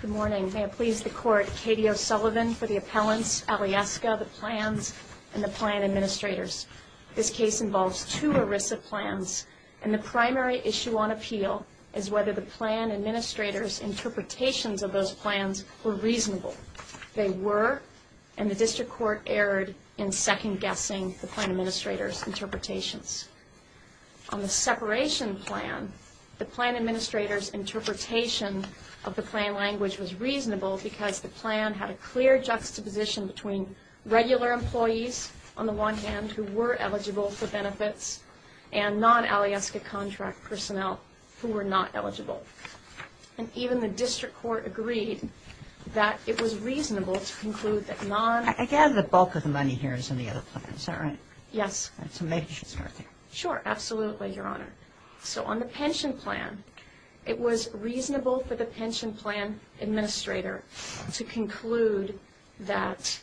Good morning. May it please the Court, Katie O'Sullivan for the appellants, Alyeska, the plans, and the plan administrators. This case involves two ERISA plans, and the primary issue on appeal is whether the plan administrators' interpretations of those plans were reasonable. They were, and the District Court erred in second-guessing the plan administrators' interpretations. On the separation plan, the plan administrators' interpretation of the plan language was reasonable because the plan had a clear juxtaposition between regular employees, on the one hand, who were eligible for benefits, and non-Alyeska contract personnel who were not eligible. And even the District Court agreed that it was reasonable to conclude that non- I gather the bulk of the money here is in the other plan, is that right? Yes. So make sure it's worth it. Sure, absolutely, Your Honor. So on the pension plan, it was reasonable for the pension plan administrator to conclude that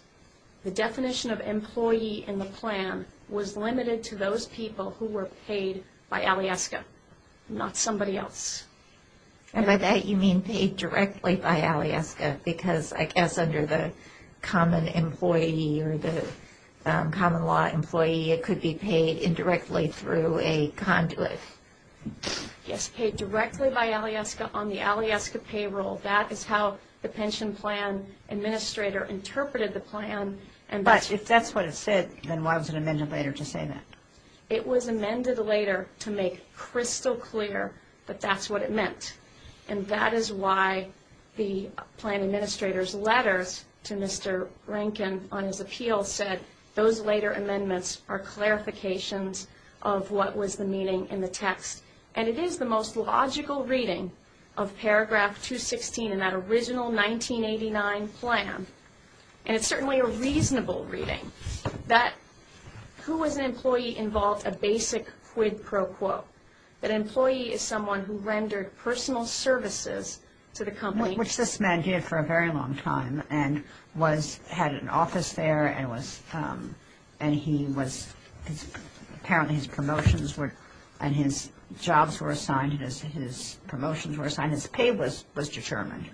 the definition of employee in the plan was limited to those people who were paid by Alyeska, not somebody else. And by that, you mean paid directly by Alyeska, because I guess under the common employee or the common law employee, it could be paid indirectly through a conduit. Yes, paid directly by Alyeska on the Alyeska payroll. That is how the pension plan administrator interpreted the plan. But if that's what it said, then why was it amended later to say that? It was amended later to make crystal clear that that's what it meant. And that is why the plan administrator's letters to Mr. Rankin on his appeal said, those later amendments are clarifications of what was the meaning in the text. And it is the most logical reading of paragraph 216 in that original 1989 plan, and it's certainly a reasonable reading, that who was an employee involved a basic quid pro quo, that an employee is someone who rendered personal services to the company. Which this man did for a very long time and had an office there and he was, apparently his promotions and his jobs were assigned, his promotions were assigned, his pay was determined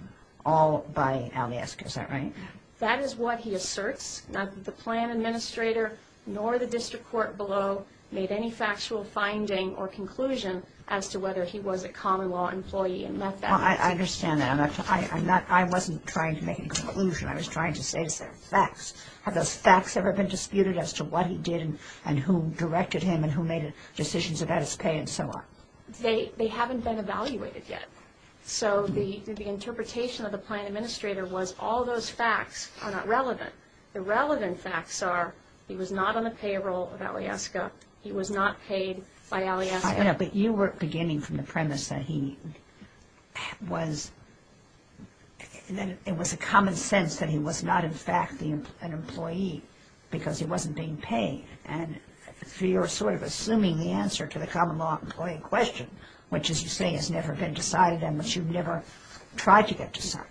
all by Alyeska, is that right? That is what he asserts. The plan administrator nor the district court below made any factual finding or conclusion as to whether he was a common law employee and met that. I understand that. I wasn't trying to make a conclusion. I was trying to say facts. Have those facts ever been disputed as to what he did and who directed him and who made decisions about his pay and so on? They haven't been evaluated yet. So the interpretation of the plan administrator was all those facts are not relevant. The relevant facts are he was not on the payroll of Alyeska. He was not paid by Alyeska. But you were beginning from the premise that he was, that it was a common sense that he was not in fact an employee because he wasn't being paid. And you're sort of assuming the answer to the common law employee question, which, as you say, has never been decided and which you've never tried to get decided.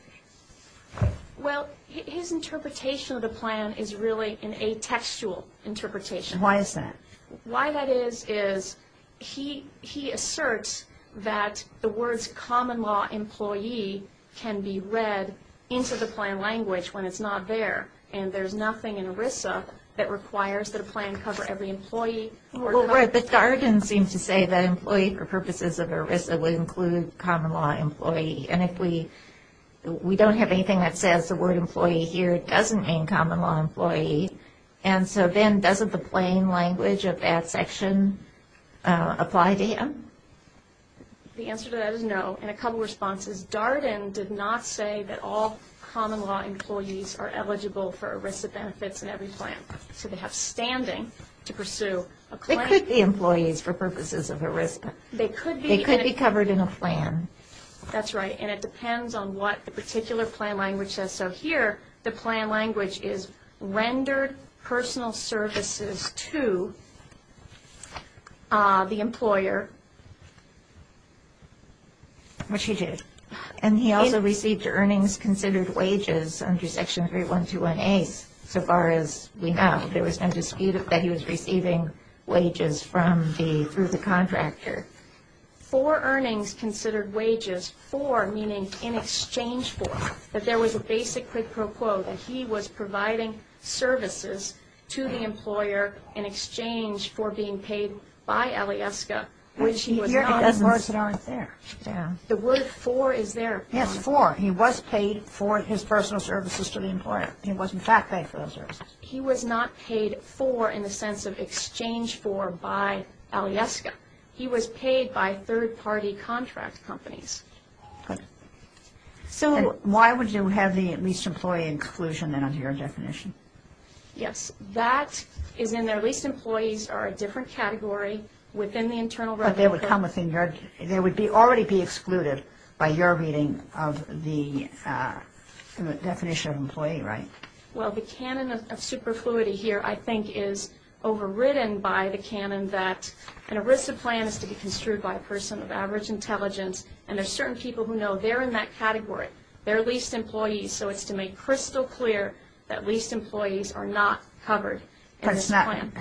Well, his interpretation of the plan is really an atextual interpretation. Why is that? Why that is, is he asserts that the words common law employee can be read into the plan language when it's not there. And there's nothing in ERISA that requires that a plan cover every employee. Well, the guardian seemed to say that employee for purposes of ERISA would include common law employee. And if we don't have anything that says the word employee here, it doesn't mean common law employee. And so then doesn't the plain language of that section apply to him? The answer to that is no. And a couple of responses. Darden did not say that all common law employees are eligible for ERISA benefits in every plan. So they have standing to pursue a claim. They could be employees for purposes of ERISA. They could be covered in a plan. That's right. And it depends on what the particular plan language says. So here the plan language is rendered personal services to the employer, which he did. And he also received earnings considered wages under Section 3121A, so far as we know. There was no dispute that he was receiving wages through the contractor. For earnings considered wages, for meaning in exchange for, that there was a basic quid pro quo that he was providing services to the employer in exchange for being paid by Alyeska, which he was not. Here it doesn't start there. The word for is there. Yes, for. He was paid for his personal services to the employer. He was, in fact, paid for those services. He was not paid for in the sense of exchange for by Alyeska. He was paid by third-party contract companies. Okay. So why would you have the leased employee exclusion then under your definition? Yes. That is in their leased employees are a different category within the internal revenue curve. But they would come within your, they would already be excluded by your reading of the definition of employee, right? Well, the canon of superfluity here, I think, is overridden by the canon that an ERISA plan is to be construed by a person of average intelligence, and there are certain people who know they're in that category. They're leased employees, so it's to make crystal clear that leased employees are not covered in this plan.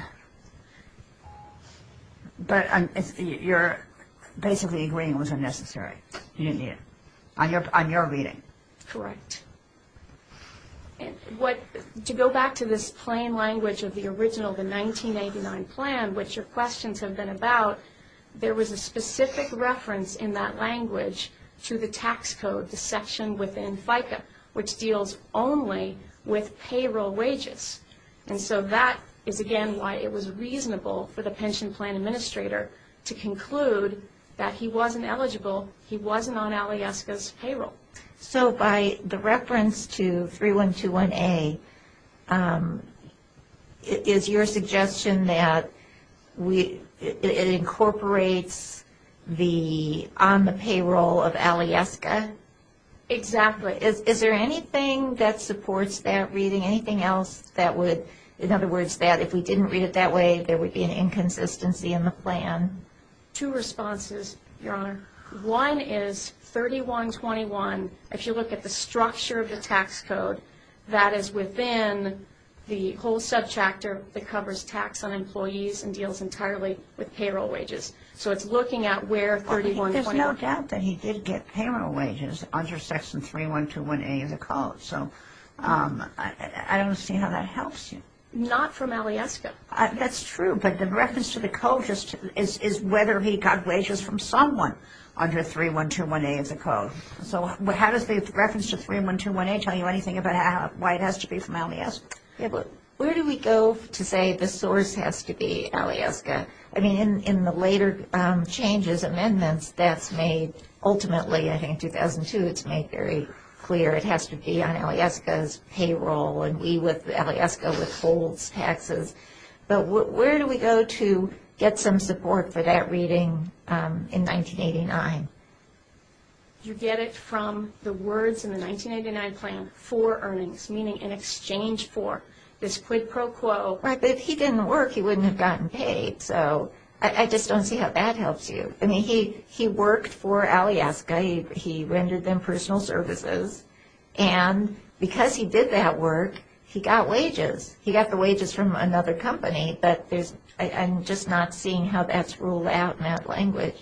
But it's not, but you're basically agreeing it was unnecessary, you didn't need it, on your reading. Correct. To go back to this plain language of the original, the 1989 plan, which your questions have been about, there was a specific reference in that language to the tax code, the section within FICA, which deals only with payroll wages. And so that is, again, why it was reasonable for the pension plan administrator to conclude that he wasn't eligible, he wasn't on Alyeska's payroll. So by the reference to 3121A, is your suggestion that it incorporates the on-the-payroll of Alyeska? Exactly. Is there anything that supports that reading, anything else that would, in other words, that if we didn't read it that way, there would be an inconsistency in the plan? Two responses, Your Honor. One is 3121, if you look at the structure of the tax code, that is within the whole sub-chapter that covers tax on employees and deals entirely with payroll wages. So it's looking at where 3121. There's no doubt that he did get payroll wages under section 3121A of the code. So I don't see how that helps you. Not from Alyeska. That's true, but the reference to the code is whether he got wages from someone under 3121A of the code. So how does the reference to 3121A tell you anything about why it has to be from Alyeska? Where do we go to say the source has to be Alyeska? I mean, in the later changes, amendments, that's made ultimately, I think, in 2002, it's made very clear. It has to be on Alyeska's payroll, and Alyeska withholds taxes. But where do we go to get some support for that reading in 1989? You get it from the words in the 1989 plan for earnings, meaning in exchange for this quid pro quo. Right, but if he didn't work, he wouldn't have gotten paid. So I just don't see how that helps you. I mean, he worked for Alyeska. He rendered them personal services, and because he did that work, he got wages. He got the wages from another company, but I'm just not seeing how that's ruled out in that language.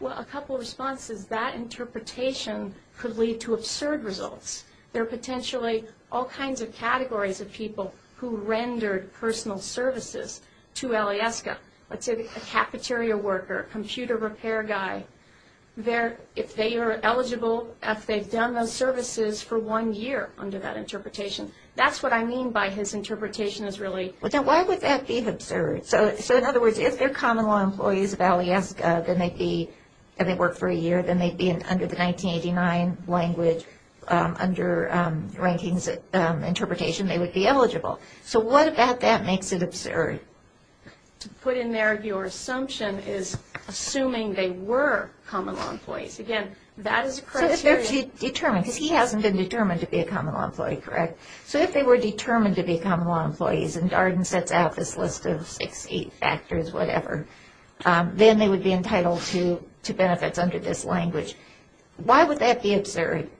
Well, a couple of responses. That interpretation could lead to absurd results. There are potentially all kinds of categories of people who rendered personal services to Alyeska. Let's say a cafeteria worker, computer repair guy. If they are eligible, if they've done those services for one year under that interpretation. That's what I mean by his interpretation is really. Well, then why would that be absurd? So in other words, if they're common law employees of Alyeska, and they work for a year, then they'd be under the 1989 language, under Rankings Interpretation, they would be eligible. So what about that makes it absurd? To put in there, your assumption is assuming they were common law employees. Again, that is a criteria. So if they're determined, because he hasn't been determined to be a common law employee, correct? So if they were determined to be common law employees, and Darden sets out this list of six, eight factors, whatever, then they would be entitled to benefits under this language. Why would that be absurd?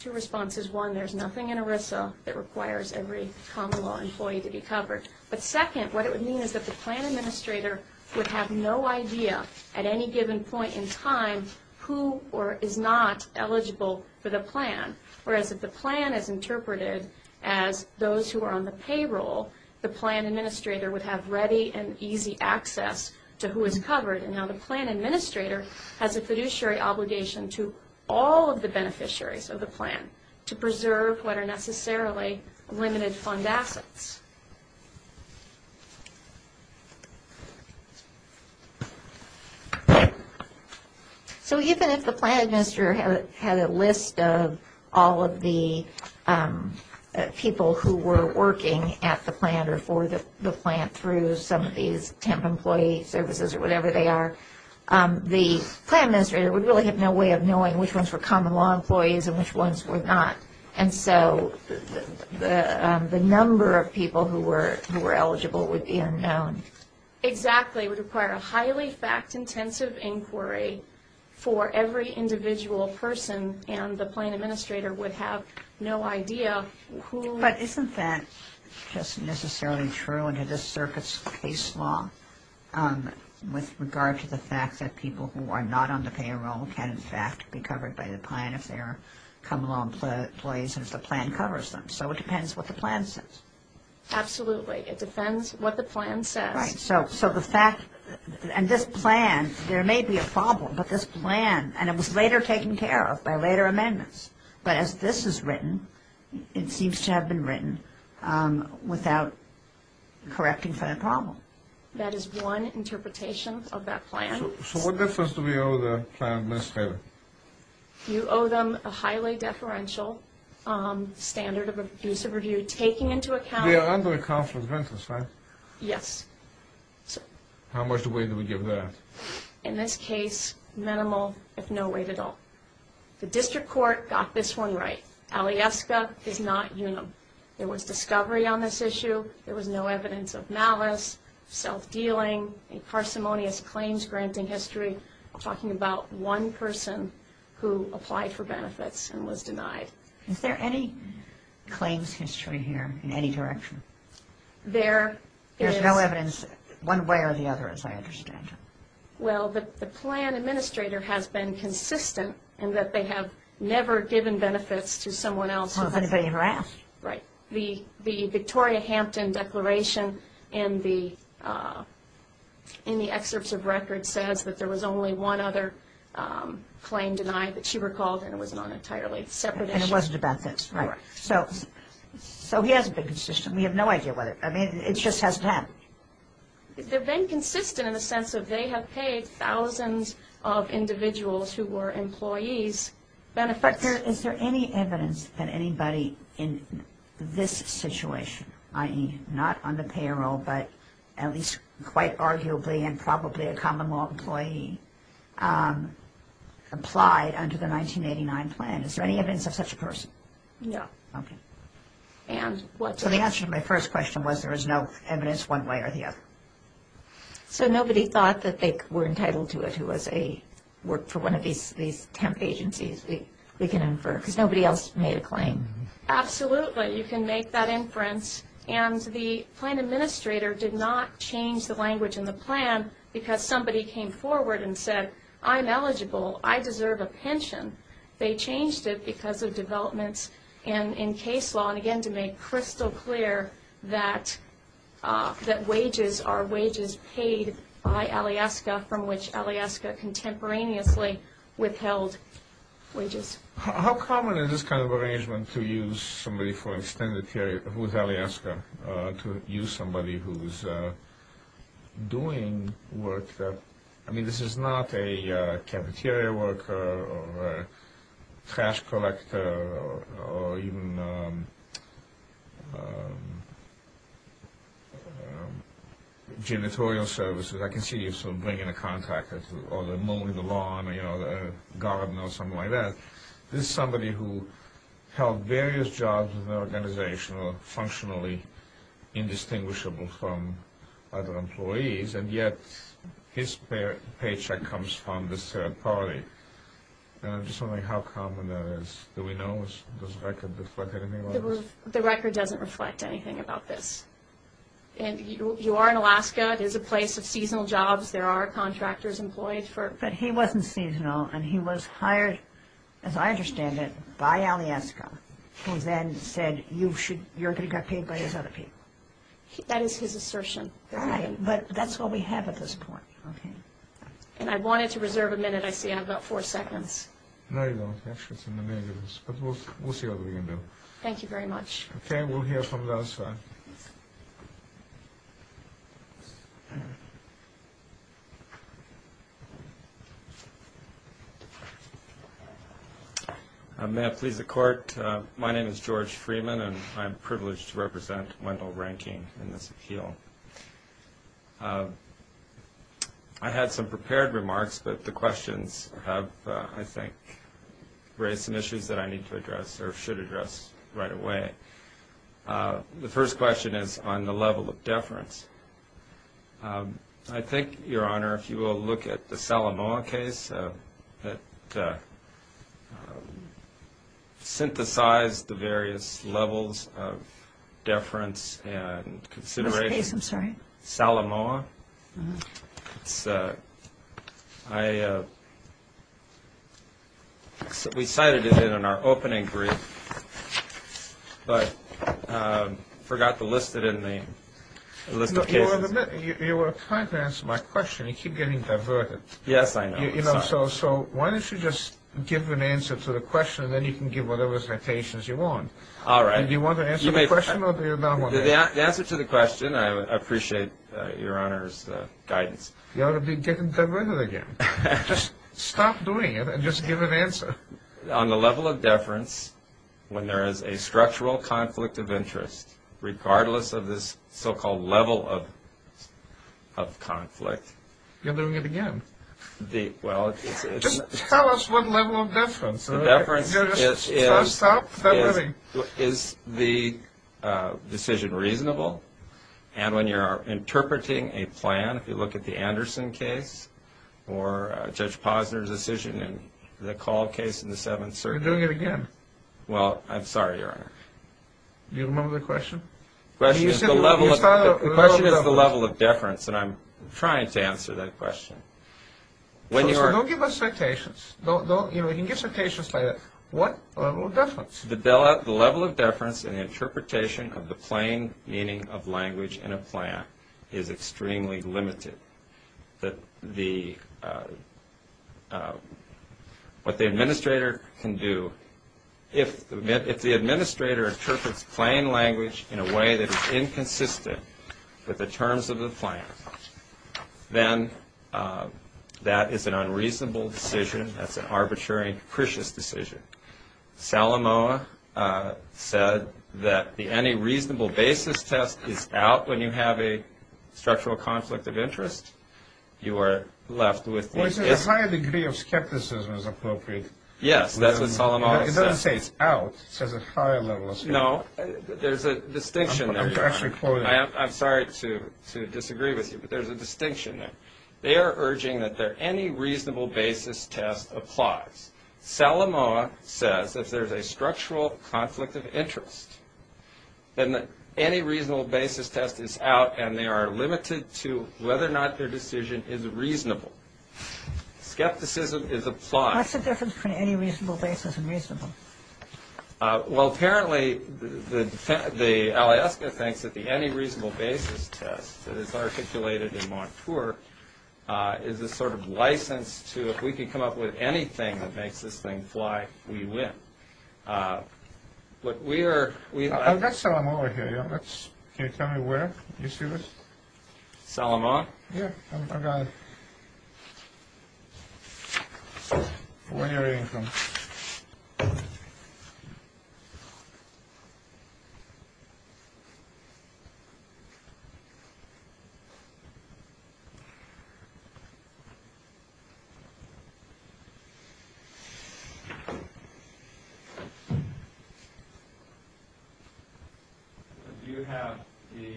Two responses. One, there's nothing in ERISA that requires every common law employee to be covered. But second, what it would mean is that the plan administrator would have no idea, at any given point in time, who is not eligible for the plan. Whereas if the plan is interpreted as those who are on the payroll, the plan administrator would have ready and easy access to who is covered. And now the plan administrator has a fiduciary obligation to all of the beneficiaries of the plan to preserve what are necessarily limited fund assets. So even if the plan administrator had a list of all of the people who were working at the plan through some of these temp employee services or whatever they are, the plan administrator would really have no way of knowing which ones were common law employees and which ones were not. And so the number of people who were eligible would be unknown. Exactly. It would require a highly fact-intensive inquiry for every individual person, and the plan administrator would have no idea who. But isn't that just necessarily true under this circuit's case law with regard to the fact that people who are not on the payroll can, in fact, be covered by the plan if they are common law employees and if the plan covers them? So it depends what the plan says. Absolutely. It depends what the plan says. Right. So the fact ñ and this plan, there may be a problem, but this plan, and it was later taken care of by later amendments. But as this is written, it seems to have been written without correcting for the problem. That is one interpretation of that plan. So what difference do we owe the plan administrator? You owe them a highly deferential standard of abusive review, taking into account ñ They are under a conflict of interest, right? Yes. How much weight do we give that? In this case, minimal, if no weight at all. The district court got this one right. Alyeska is not UNUM. There was discovery on this issue. There was no evidence of malice, self-dealing, a parsimonious claims-granting history. I'm talking about one person who applied for benefits and was denied. Is there any claims history here in any direction? There is. There's no evidence one way or the other, as I understand it. Well, the plan administrator has been consistent in that they have never given benefits to someone else. Well, if anybody ever asked. Right. The Victoria Hampton declaration in the excerpts of record says that there was only one other claim denied that she recalled, and it was not an entirely separate issue. And it wasn't about this. Right. So he hasn't been consistent. We have no idea whether ñ I mean, it just hasn't happened. They've been consistent in the sense that they have paid thousands of individuals who were employees benefits. But is there any evidence that anybody in this situation, i.e., not on the payroll, but at least quite arguably and probably a common-law employee, applied under the 1989 plan? Is there any evidence of such a person? No. Okay. So the answer to my first question was there is no evidence one way or the other. So nobody thought that they were entitled to it who was a ñ worked for one of these temp agencies. We can infer, because nobody else made a claim. Absolutely. You can make that inference. And the plan administrator did not change the language in the plan because somebody came forward and said, I'm eligible, I deserve a pension. They changed it because of developments in case law. And, again, to make crystal clear that wages are wages paid by Alyeska, from which Alyeska contemporaneously withheld wages. How common is this kind of arrangement to use somebody for extended period with Alyeska, to use somebody who's doing work that ñ a material worker or a trash collector or even janitorial services. I can see you sort of bringing a contractor or mowing the lawn or, you know, a garden or something like that. This is somebody who held various jobs in the organization or functionally indistinguishable from other employees, and yet his paycheck comes from this third party. And I'm just wondering how common that is. Do we know? Does the record reflect anything about this? The record doesn't reflect anything about this. And you are in Alaska. It is a place of seasonal jobs. There are contractors employed for ñ But he wasn't seasonal, and he was hired, as I understand it, by Alyeska, who then said you should ñ you're going to get paid by these other people. That is his assertion. Right. But that's all we have at this point. Okay. And I wanted to reserve a minute. I see I have about four seconds. No, you don't. Actually, it's in the negatives. But we'll see what we can do. Thank you very much. Okay. We'll hear from the other side. May I please the Court? My name is George Freeman, and I'm privileged to represent Wendell Rankine in this appeal. I had some prepared remarks, but the questions have, I think, raised some issues that I need to address or should address right away. The first question is on the level of deference. I think, Your Honor, if you will look at the Salamoa case that synthesized the various levels of deference and consideration. This case, I'm sorry? Salamoa. We cited it in our opening brief, but forgot to list it in the list of cases. You were trying to answer my question. You keep getting diverted. Yes, I know. I'm sorry. So why don't you just give an answer to the question, and then you can give whatever citations you want. All right. Do you want to answer the question or do you not want to answer? The answer to the question, I appreciate Your Honor's guidance. You ought to be getting diverted again. Just stop doing it and just give an answer. On the level of deference, when there is a structural conflict of interest, regardless of this so-called level of conflict. You're doing it again. Just tell us what level of deference. The deference is the decision reasonable, and when you're interpreting a plan, if you look at the Anderson case or Judge Posner's decision in the Call case in the Seventh Circuit. You're doing it again. Well, I'm sorry, Your Honor. Do you remember the question? The question is the level of deference, and I'm trying to answer that question. Don't give us citations. Don't give us citations like that. What level of deference? The level of deference in the interpretation of the plain meaning of language in a plan is extremely limited. What the administrator can do, if the administrator interprets plain language in a way that is inconsistent with the terms of the plan, then that is an unreasonable decision. That's an arbitrary and capricious decision. Salamoa said that any reasonable basis test is out when you have a structural conflict of interest. You are left with this. A higher degree of skepticism is appropriate. Yes, that's what Salamoa said. It doesn't say it's out. It says a higher level of skepticism. No. There's a distinction there, Your Honor. I'm sorry to disagree with you, but there's a distinction there. They are urging that any reasonable basis test applies. Salamoa says if there's a structural conflict of interest, then any reasonable basis test is out and they are limited to whether or not their decision is reasonable. Skepticism is applied. What's the difference between any reasonable basis and reasonable? Well, apparently, the aliaska thinks that the any reasonable basis test that is articulated in Montour is a sort of license to if we can come up with anything that makes this thing fly, we win. Look, we are… I've got Salamoa here. Can you tell me where? Do you see this? Salamoa? Yeah, I've got it. When are you going to come? Do you have the…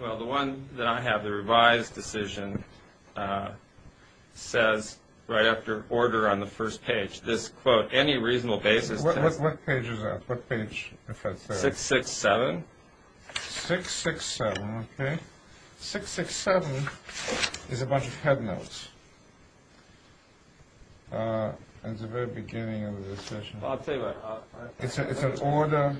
Well, the one that I have, the revised decision, says right after order on the first page, this quote, any reasonable basis test… What page is that? What page? 667. 667, okay. 667 is a bunch of head notes. It's the very beginning of the decision. I'll tell you what. It's an order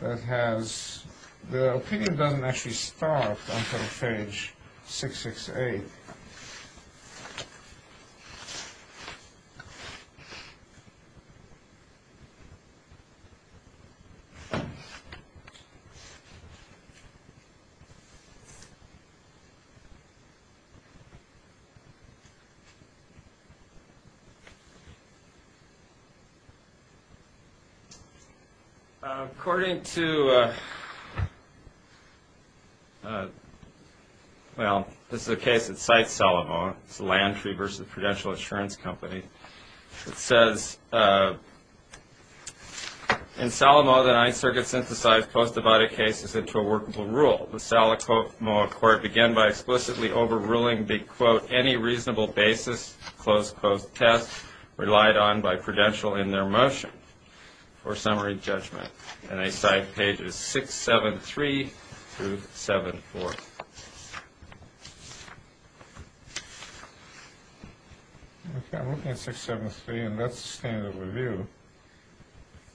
that has… The opinion doesn't actually start until page 668. According to… Well, this is a case that cites Salamoa. It's a land fee versus a prudential insurance company. It says, in Salamoa, the ninth circuit synthesized post-divided cases into a workable rule. The Salamoa court began by explicitly overruling the, quote, relied on by prudential in their motion for summary judgment. And they cite pages 673 through 74. Okay, I'm looking at 673, and that's the standard review.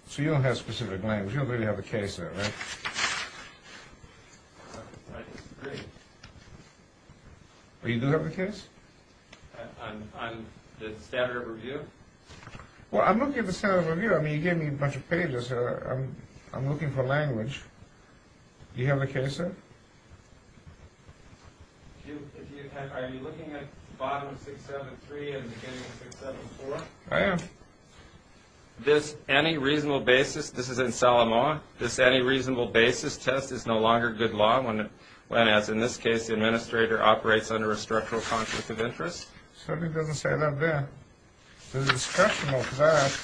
So you don't have specific language. You don't really have the case there, right? I disagree. You do have the case? On the standard review? Well, I'm looking at the standard review. I mean, you gave me a bunch of pages. I'm looking for language. Do you have the case there? Are you looking at the bottom of 673 and the beginning of 674? I am. This any reasonable basis, this is in Salamoa, this any reasonable basis test is no longer good law In this case, the administrator operates under a structural conflict of interest? Certainly doesn't say that there. There's a discussion of that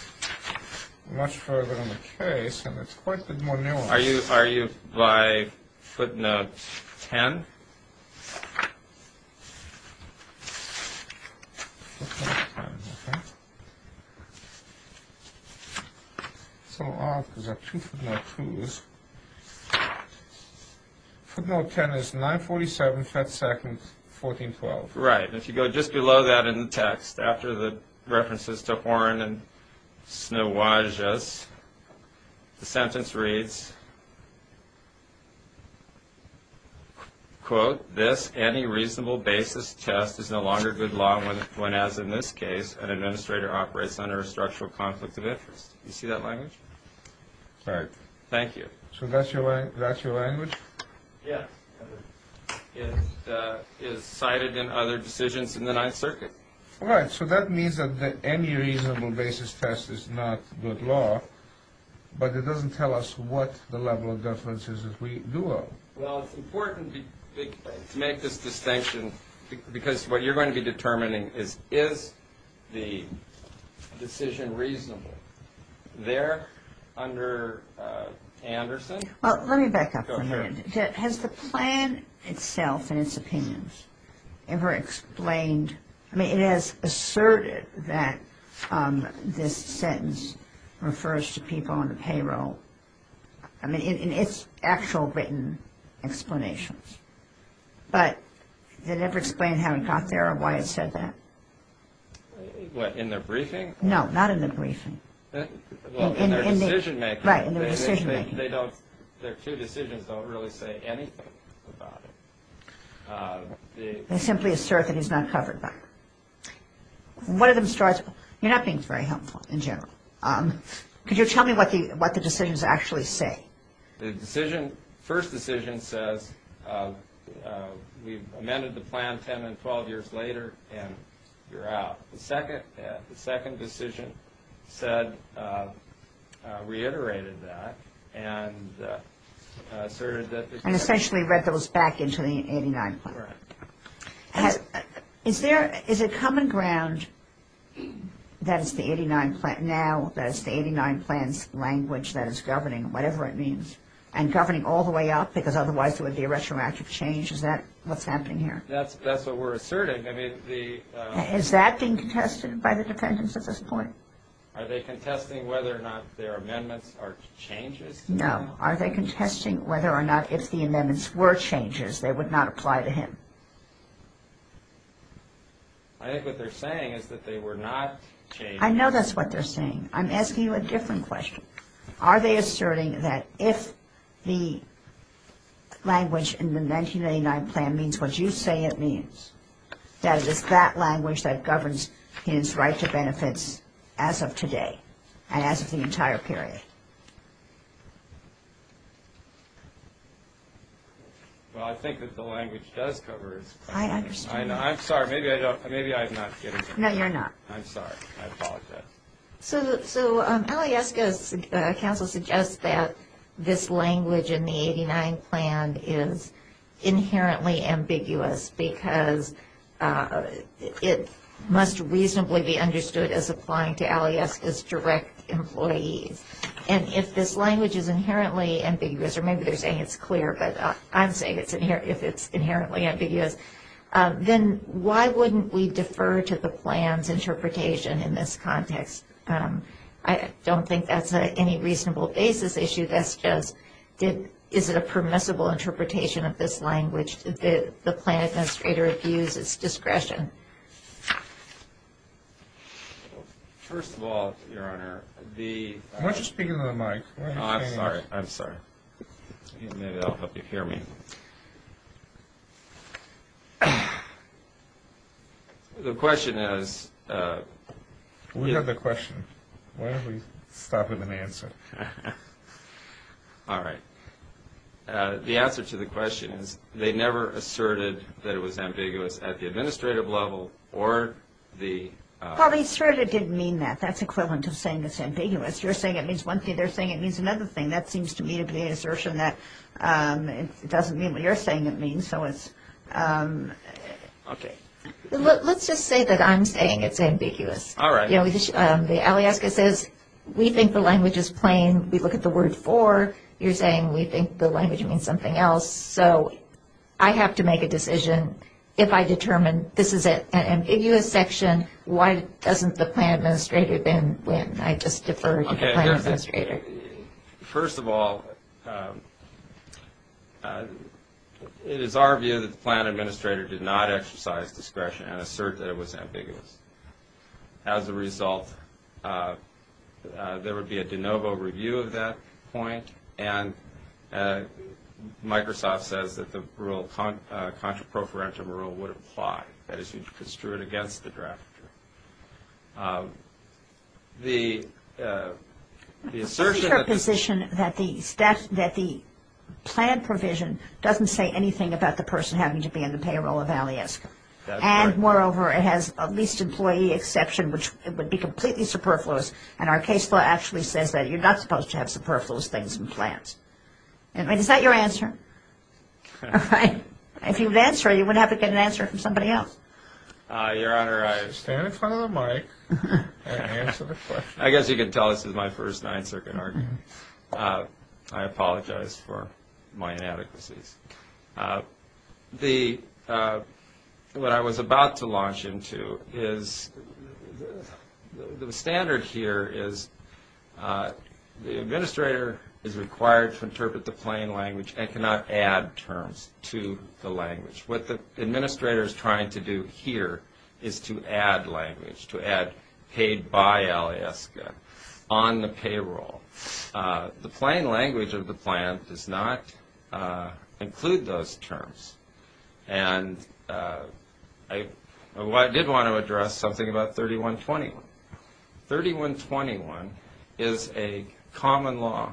much further in the case, and it's quite a bit more nuanced. Are you by footnote 10? Footnote 10, okay. It's a little odd because I have two footnote 2s. Footnote 10 is 947, 5th 2nd, 1412. Right, and if you go just below that in the text, after the references to Horn and Snowages, the sentence reads, quote, this any reasonable basis test is no longer good law when, as in this case, an administrator operates under a structural conflict of interest. Do you see that language? Right. Thank you. So that's your language? Yes. It is cited in other decisions in the Ninth Circuit. Right. So that means that the any reasonable basis test is not good law, but it doesn't tell us what the level of deference is that we do owe. Well, it's important to make this distinction because what you're going to be determining is, is the decision reasonable there under Anderson? Well, let me back up for a minute. Go ahead. Has the plan itself and its opinions ever explained, I mean, it has asserted that this sentence refers to people on the payroll, I mean, in its actual written explanations, but they never explain how it got there or why it said that. What, in their briefing? No, not in the briefing. Well, in their decision-making. Right, in their decision-making. Their two decisions don't really say anything about it. They simply assert that he's not covered by it. One of them starts, you're not being very helpful in general. Could you tell me what the decisions actually say? The first decision says we've amended the plan 10 and 12 years later and you're out. The second decision reiterated that and asserted that. And essentially read those back into the 89 plan. Correct. Is there, is it common ground that it's the 89 plan now, that it's the 89 plan's language that is governing, whatever it means, and governing all the way up because otherwise there would be a retroactive change? Is that what's happening here? That's what we're asserting. Has that been contested by the defendants at this point? Are they contesting whether or not their amendments are changes? No. Are they contesting whether or not if the amendments were changes they would not apply to him? I think what they're saying is that they were not changes. I know that's what they're saying. I'm asking you a different question. Are they asserting that if the language in the 1989 plan means what you say it means, that it is that language that governs his right to benefits as of today and as of the entire period? Well, I think that the language does cover his right to benefits. I understand. I'm sorry. Maybe I'm not getting it. No, you're not. I'm sorry. I apologize. So Alyeska's counsel suggests that this language in the 1989 plan is inherently ambiguous because it must reasonably be understood as applying to Alyeska's direct employees. And if this language is inherently ambiguous, or maybe they're saying it's clear, but I'm saying if it's inherently ambiguous, then why wouldn't we defer to the plan's interpretation in this context? I don't think that's any reasonable basis issue. That's just, is it a permissible interpretation of this language that the plan administrator views as discretion? First of all, Your Honor, the – Why don't you speak into the mic? I'm sorry. I'm sorry. Maybe that will help you hear me. The question is – We have the question. Why don't we start with an answer? All right. The answer to the question is they never asserted that it was ambiguous at the administrative level or the – Well, asserted didn't mean that. That's equivalent to saying it's ambiguous. You're saying it means one thing. They're saying it means another thing. That seems to me to be an assertion that it doesn't mean what you're saying it means. So it's – Okay. Let's just say that I'm saying it's ambiguous. All right. The aliaska says we think the language is plain. We look at the word for. You're saying we think the language means something else. So I have to make a decision. If I determine this is an ambiguous section, why doesn't the plan administrator then win? I just defer to the plan administrator. First of all, it is our view that the plan administrator did not exercise discretion and assert that it was ambiguous. As a result, there would be a de novo review of that point, and Microsoft says that the rule, contraproferentum rule, would apply. That is, you construe it against the drafter. The assertion that the – What is your position that the plan provision doesn't say anything about the person having to be in the payroll of aliaska? That's right. And, moreover, it has a least employee exception, which would be completely superfluous, and our case law actually says that you're not supposed to have superfluous things in plans. Is that your answer? All right. If you would answer, you would have to get an answer from somebody else. Your Honor, I – Stand in front of the mic and answer the question. I guess you can tell this is my first nine-circuit argument. I apologize for my inadequacies. The – what I was about to launch into is – the standard here is the administrator is required to interpret the plain language and cannot add terms to the language. What the administrator is trying to do here is to add language, to add paid by aliaska on the payroll. The plain language of the plan does not include those terms. And I did want to address something about 3121. 3121 is a common law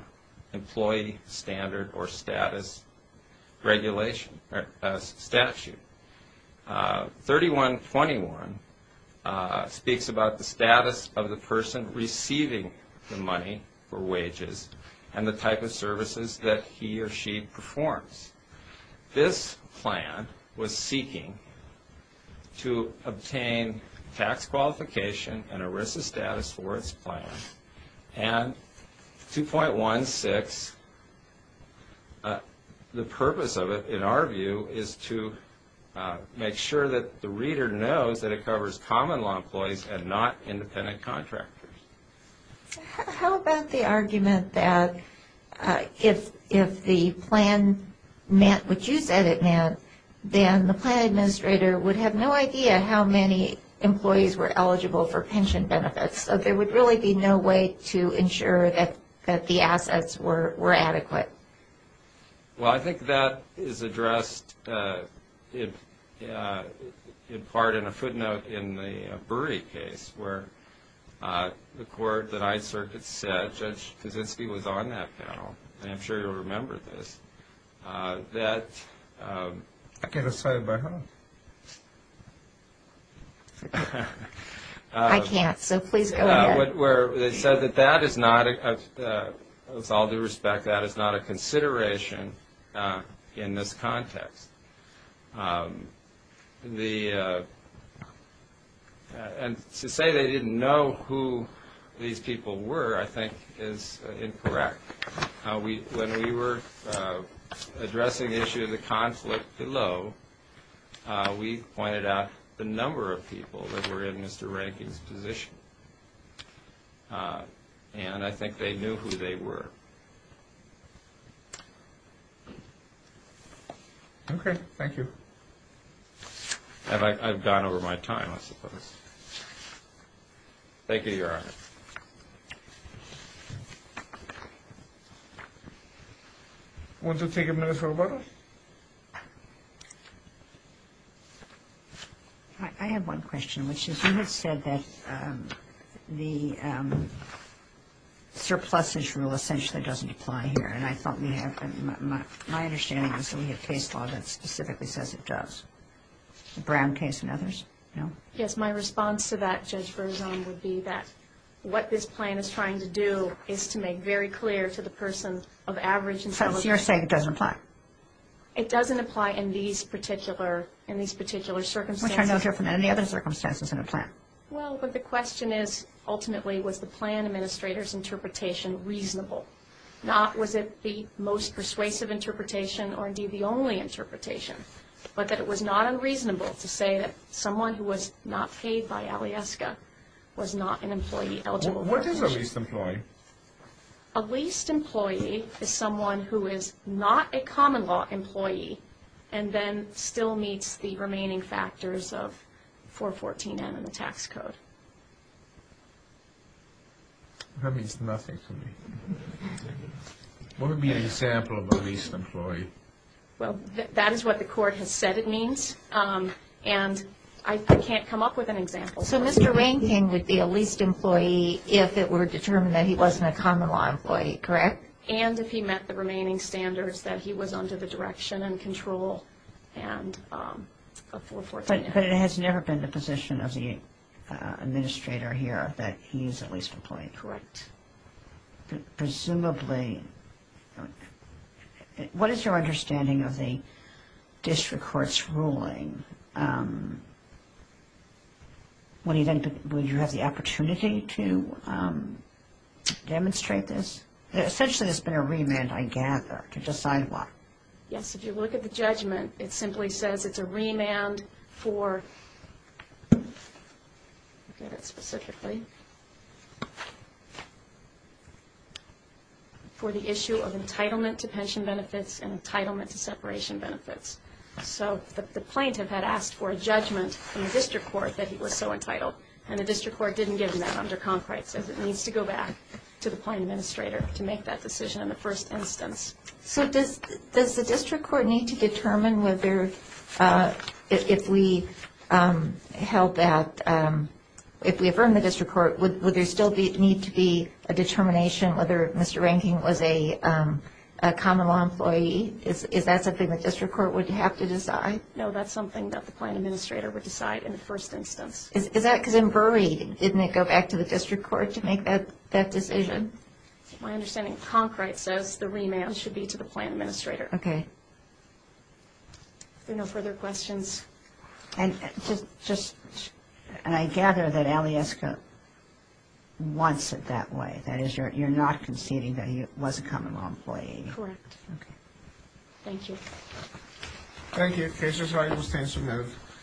employee standard or status regulation – statute. 3121 speaks about the status of the person receiving the money for wages and the type of services that he or she performs. This plan was seeking to obtain tax qualification and ERISA status for its plan. And 2.16, the purpose of it, in our view, is to make sure that the reader knows that it covers common law employees and not independent contractors. How about the argument that if the plan meant what you said it meant, then the plan administrator would have no idea how many employees were eligible for pension benefits. So there would really be no way to ensure that the assets were adequate. Well, I think that is addressed in part in a footnote in the Burry case, where the court that I served had said, Judge Kaczynski was on that panel, and I'm sure you'll remember this, that… I can't say it by heart. I can't, so please go ahead. Where they said that that is not, with all due respect, that is not a consideration in this context. And to say they didn't know who these people were, I think, is incorrect. When we were addressing the issue of the conflict below, we pointed out the number of people that were in Mr. Rankin's position, and I think they knew who they were. Okay, thank you. And I've gone over my time, I suppose. Thank you, Your Honor. Want to take a minute for a vote? I have one question, which is you had said that the surpluses rule, essentially, doesn't apply here, and my understanding is that we have case law that specifically says it does. The Brown case and others, no? Yes, my response to that, Judge Berzon, would be that what this plan is trying to do is to make very clear to the person of average intelligence… So you're saying it doesn't apply? It doesn't apply in these particular circumstances. Which are no different than any other circumstances in a plan. Well, but the question is, ultimately, was the plan administrator's interpretation reasonable? Not was it the most persuasive interpretation or, indeed, the only interpretation, but that it was not unreasonable to say that someone who was not paid by Alieska was not an employee eligible for a commission. What is a leased employee? A leased employee is someone who is not a common law employee and then still meets the remaining factors of 414N in the tax code. That means nothing to me. What would be an example of a leased employee? Well, that is what the court has said it means, and I can't come up with an example. So Mr. Rankin would be a leased employee if it were determined that he wasn't a common law employee, correct? And if he met the remaining standards that he was under the direction and control of 414N. But it has never been the position of the administrator here that he is a leased employee? Correct. Presumably. Would you have the opportunity to demonstrate this? Essentially, there has been a remand, I gather, to decide what? Yes, if you look at the judgment, it simply says it is a remand for the issue of entitlement to pension benefits and entitlement to separation benefits. So the plaintiff had asked for a judgment in the district court that he was so entitled, and the district court didn't give him that under concrete, so it needs to go back to the plaintiff's administrator to make that decision in the first instance. So does the district court need to determine whether if we help that, if we affirm the district court, would there still need to be a determination whether Mr. Rankin was a common law employee? Is that something the district court would have to decide? No, that's something that the plaintiff's administrator would decide in the first instance. Is that because in Bury, didn't it go back to the district court to make that decision? My understanding of concrete says the remand should be to the plaintiff's administrator. Okay. Are there no further questions? And I gather that Aliesca wants it that way. That is, you're not conceding that he was a common law employee. Correct. Okay. Thank you. Thank you. The case is hired. We'll stand some note.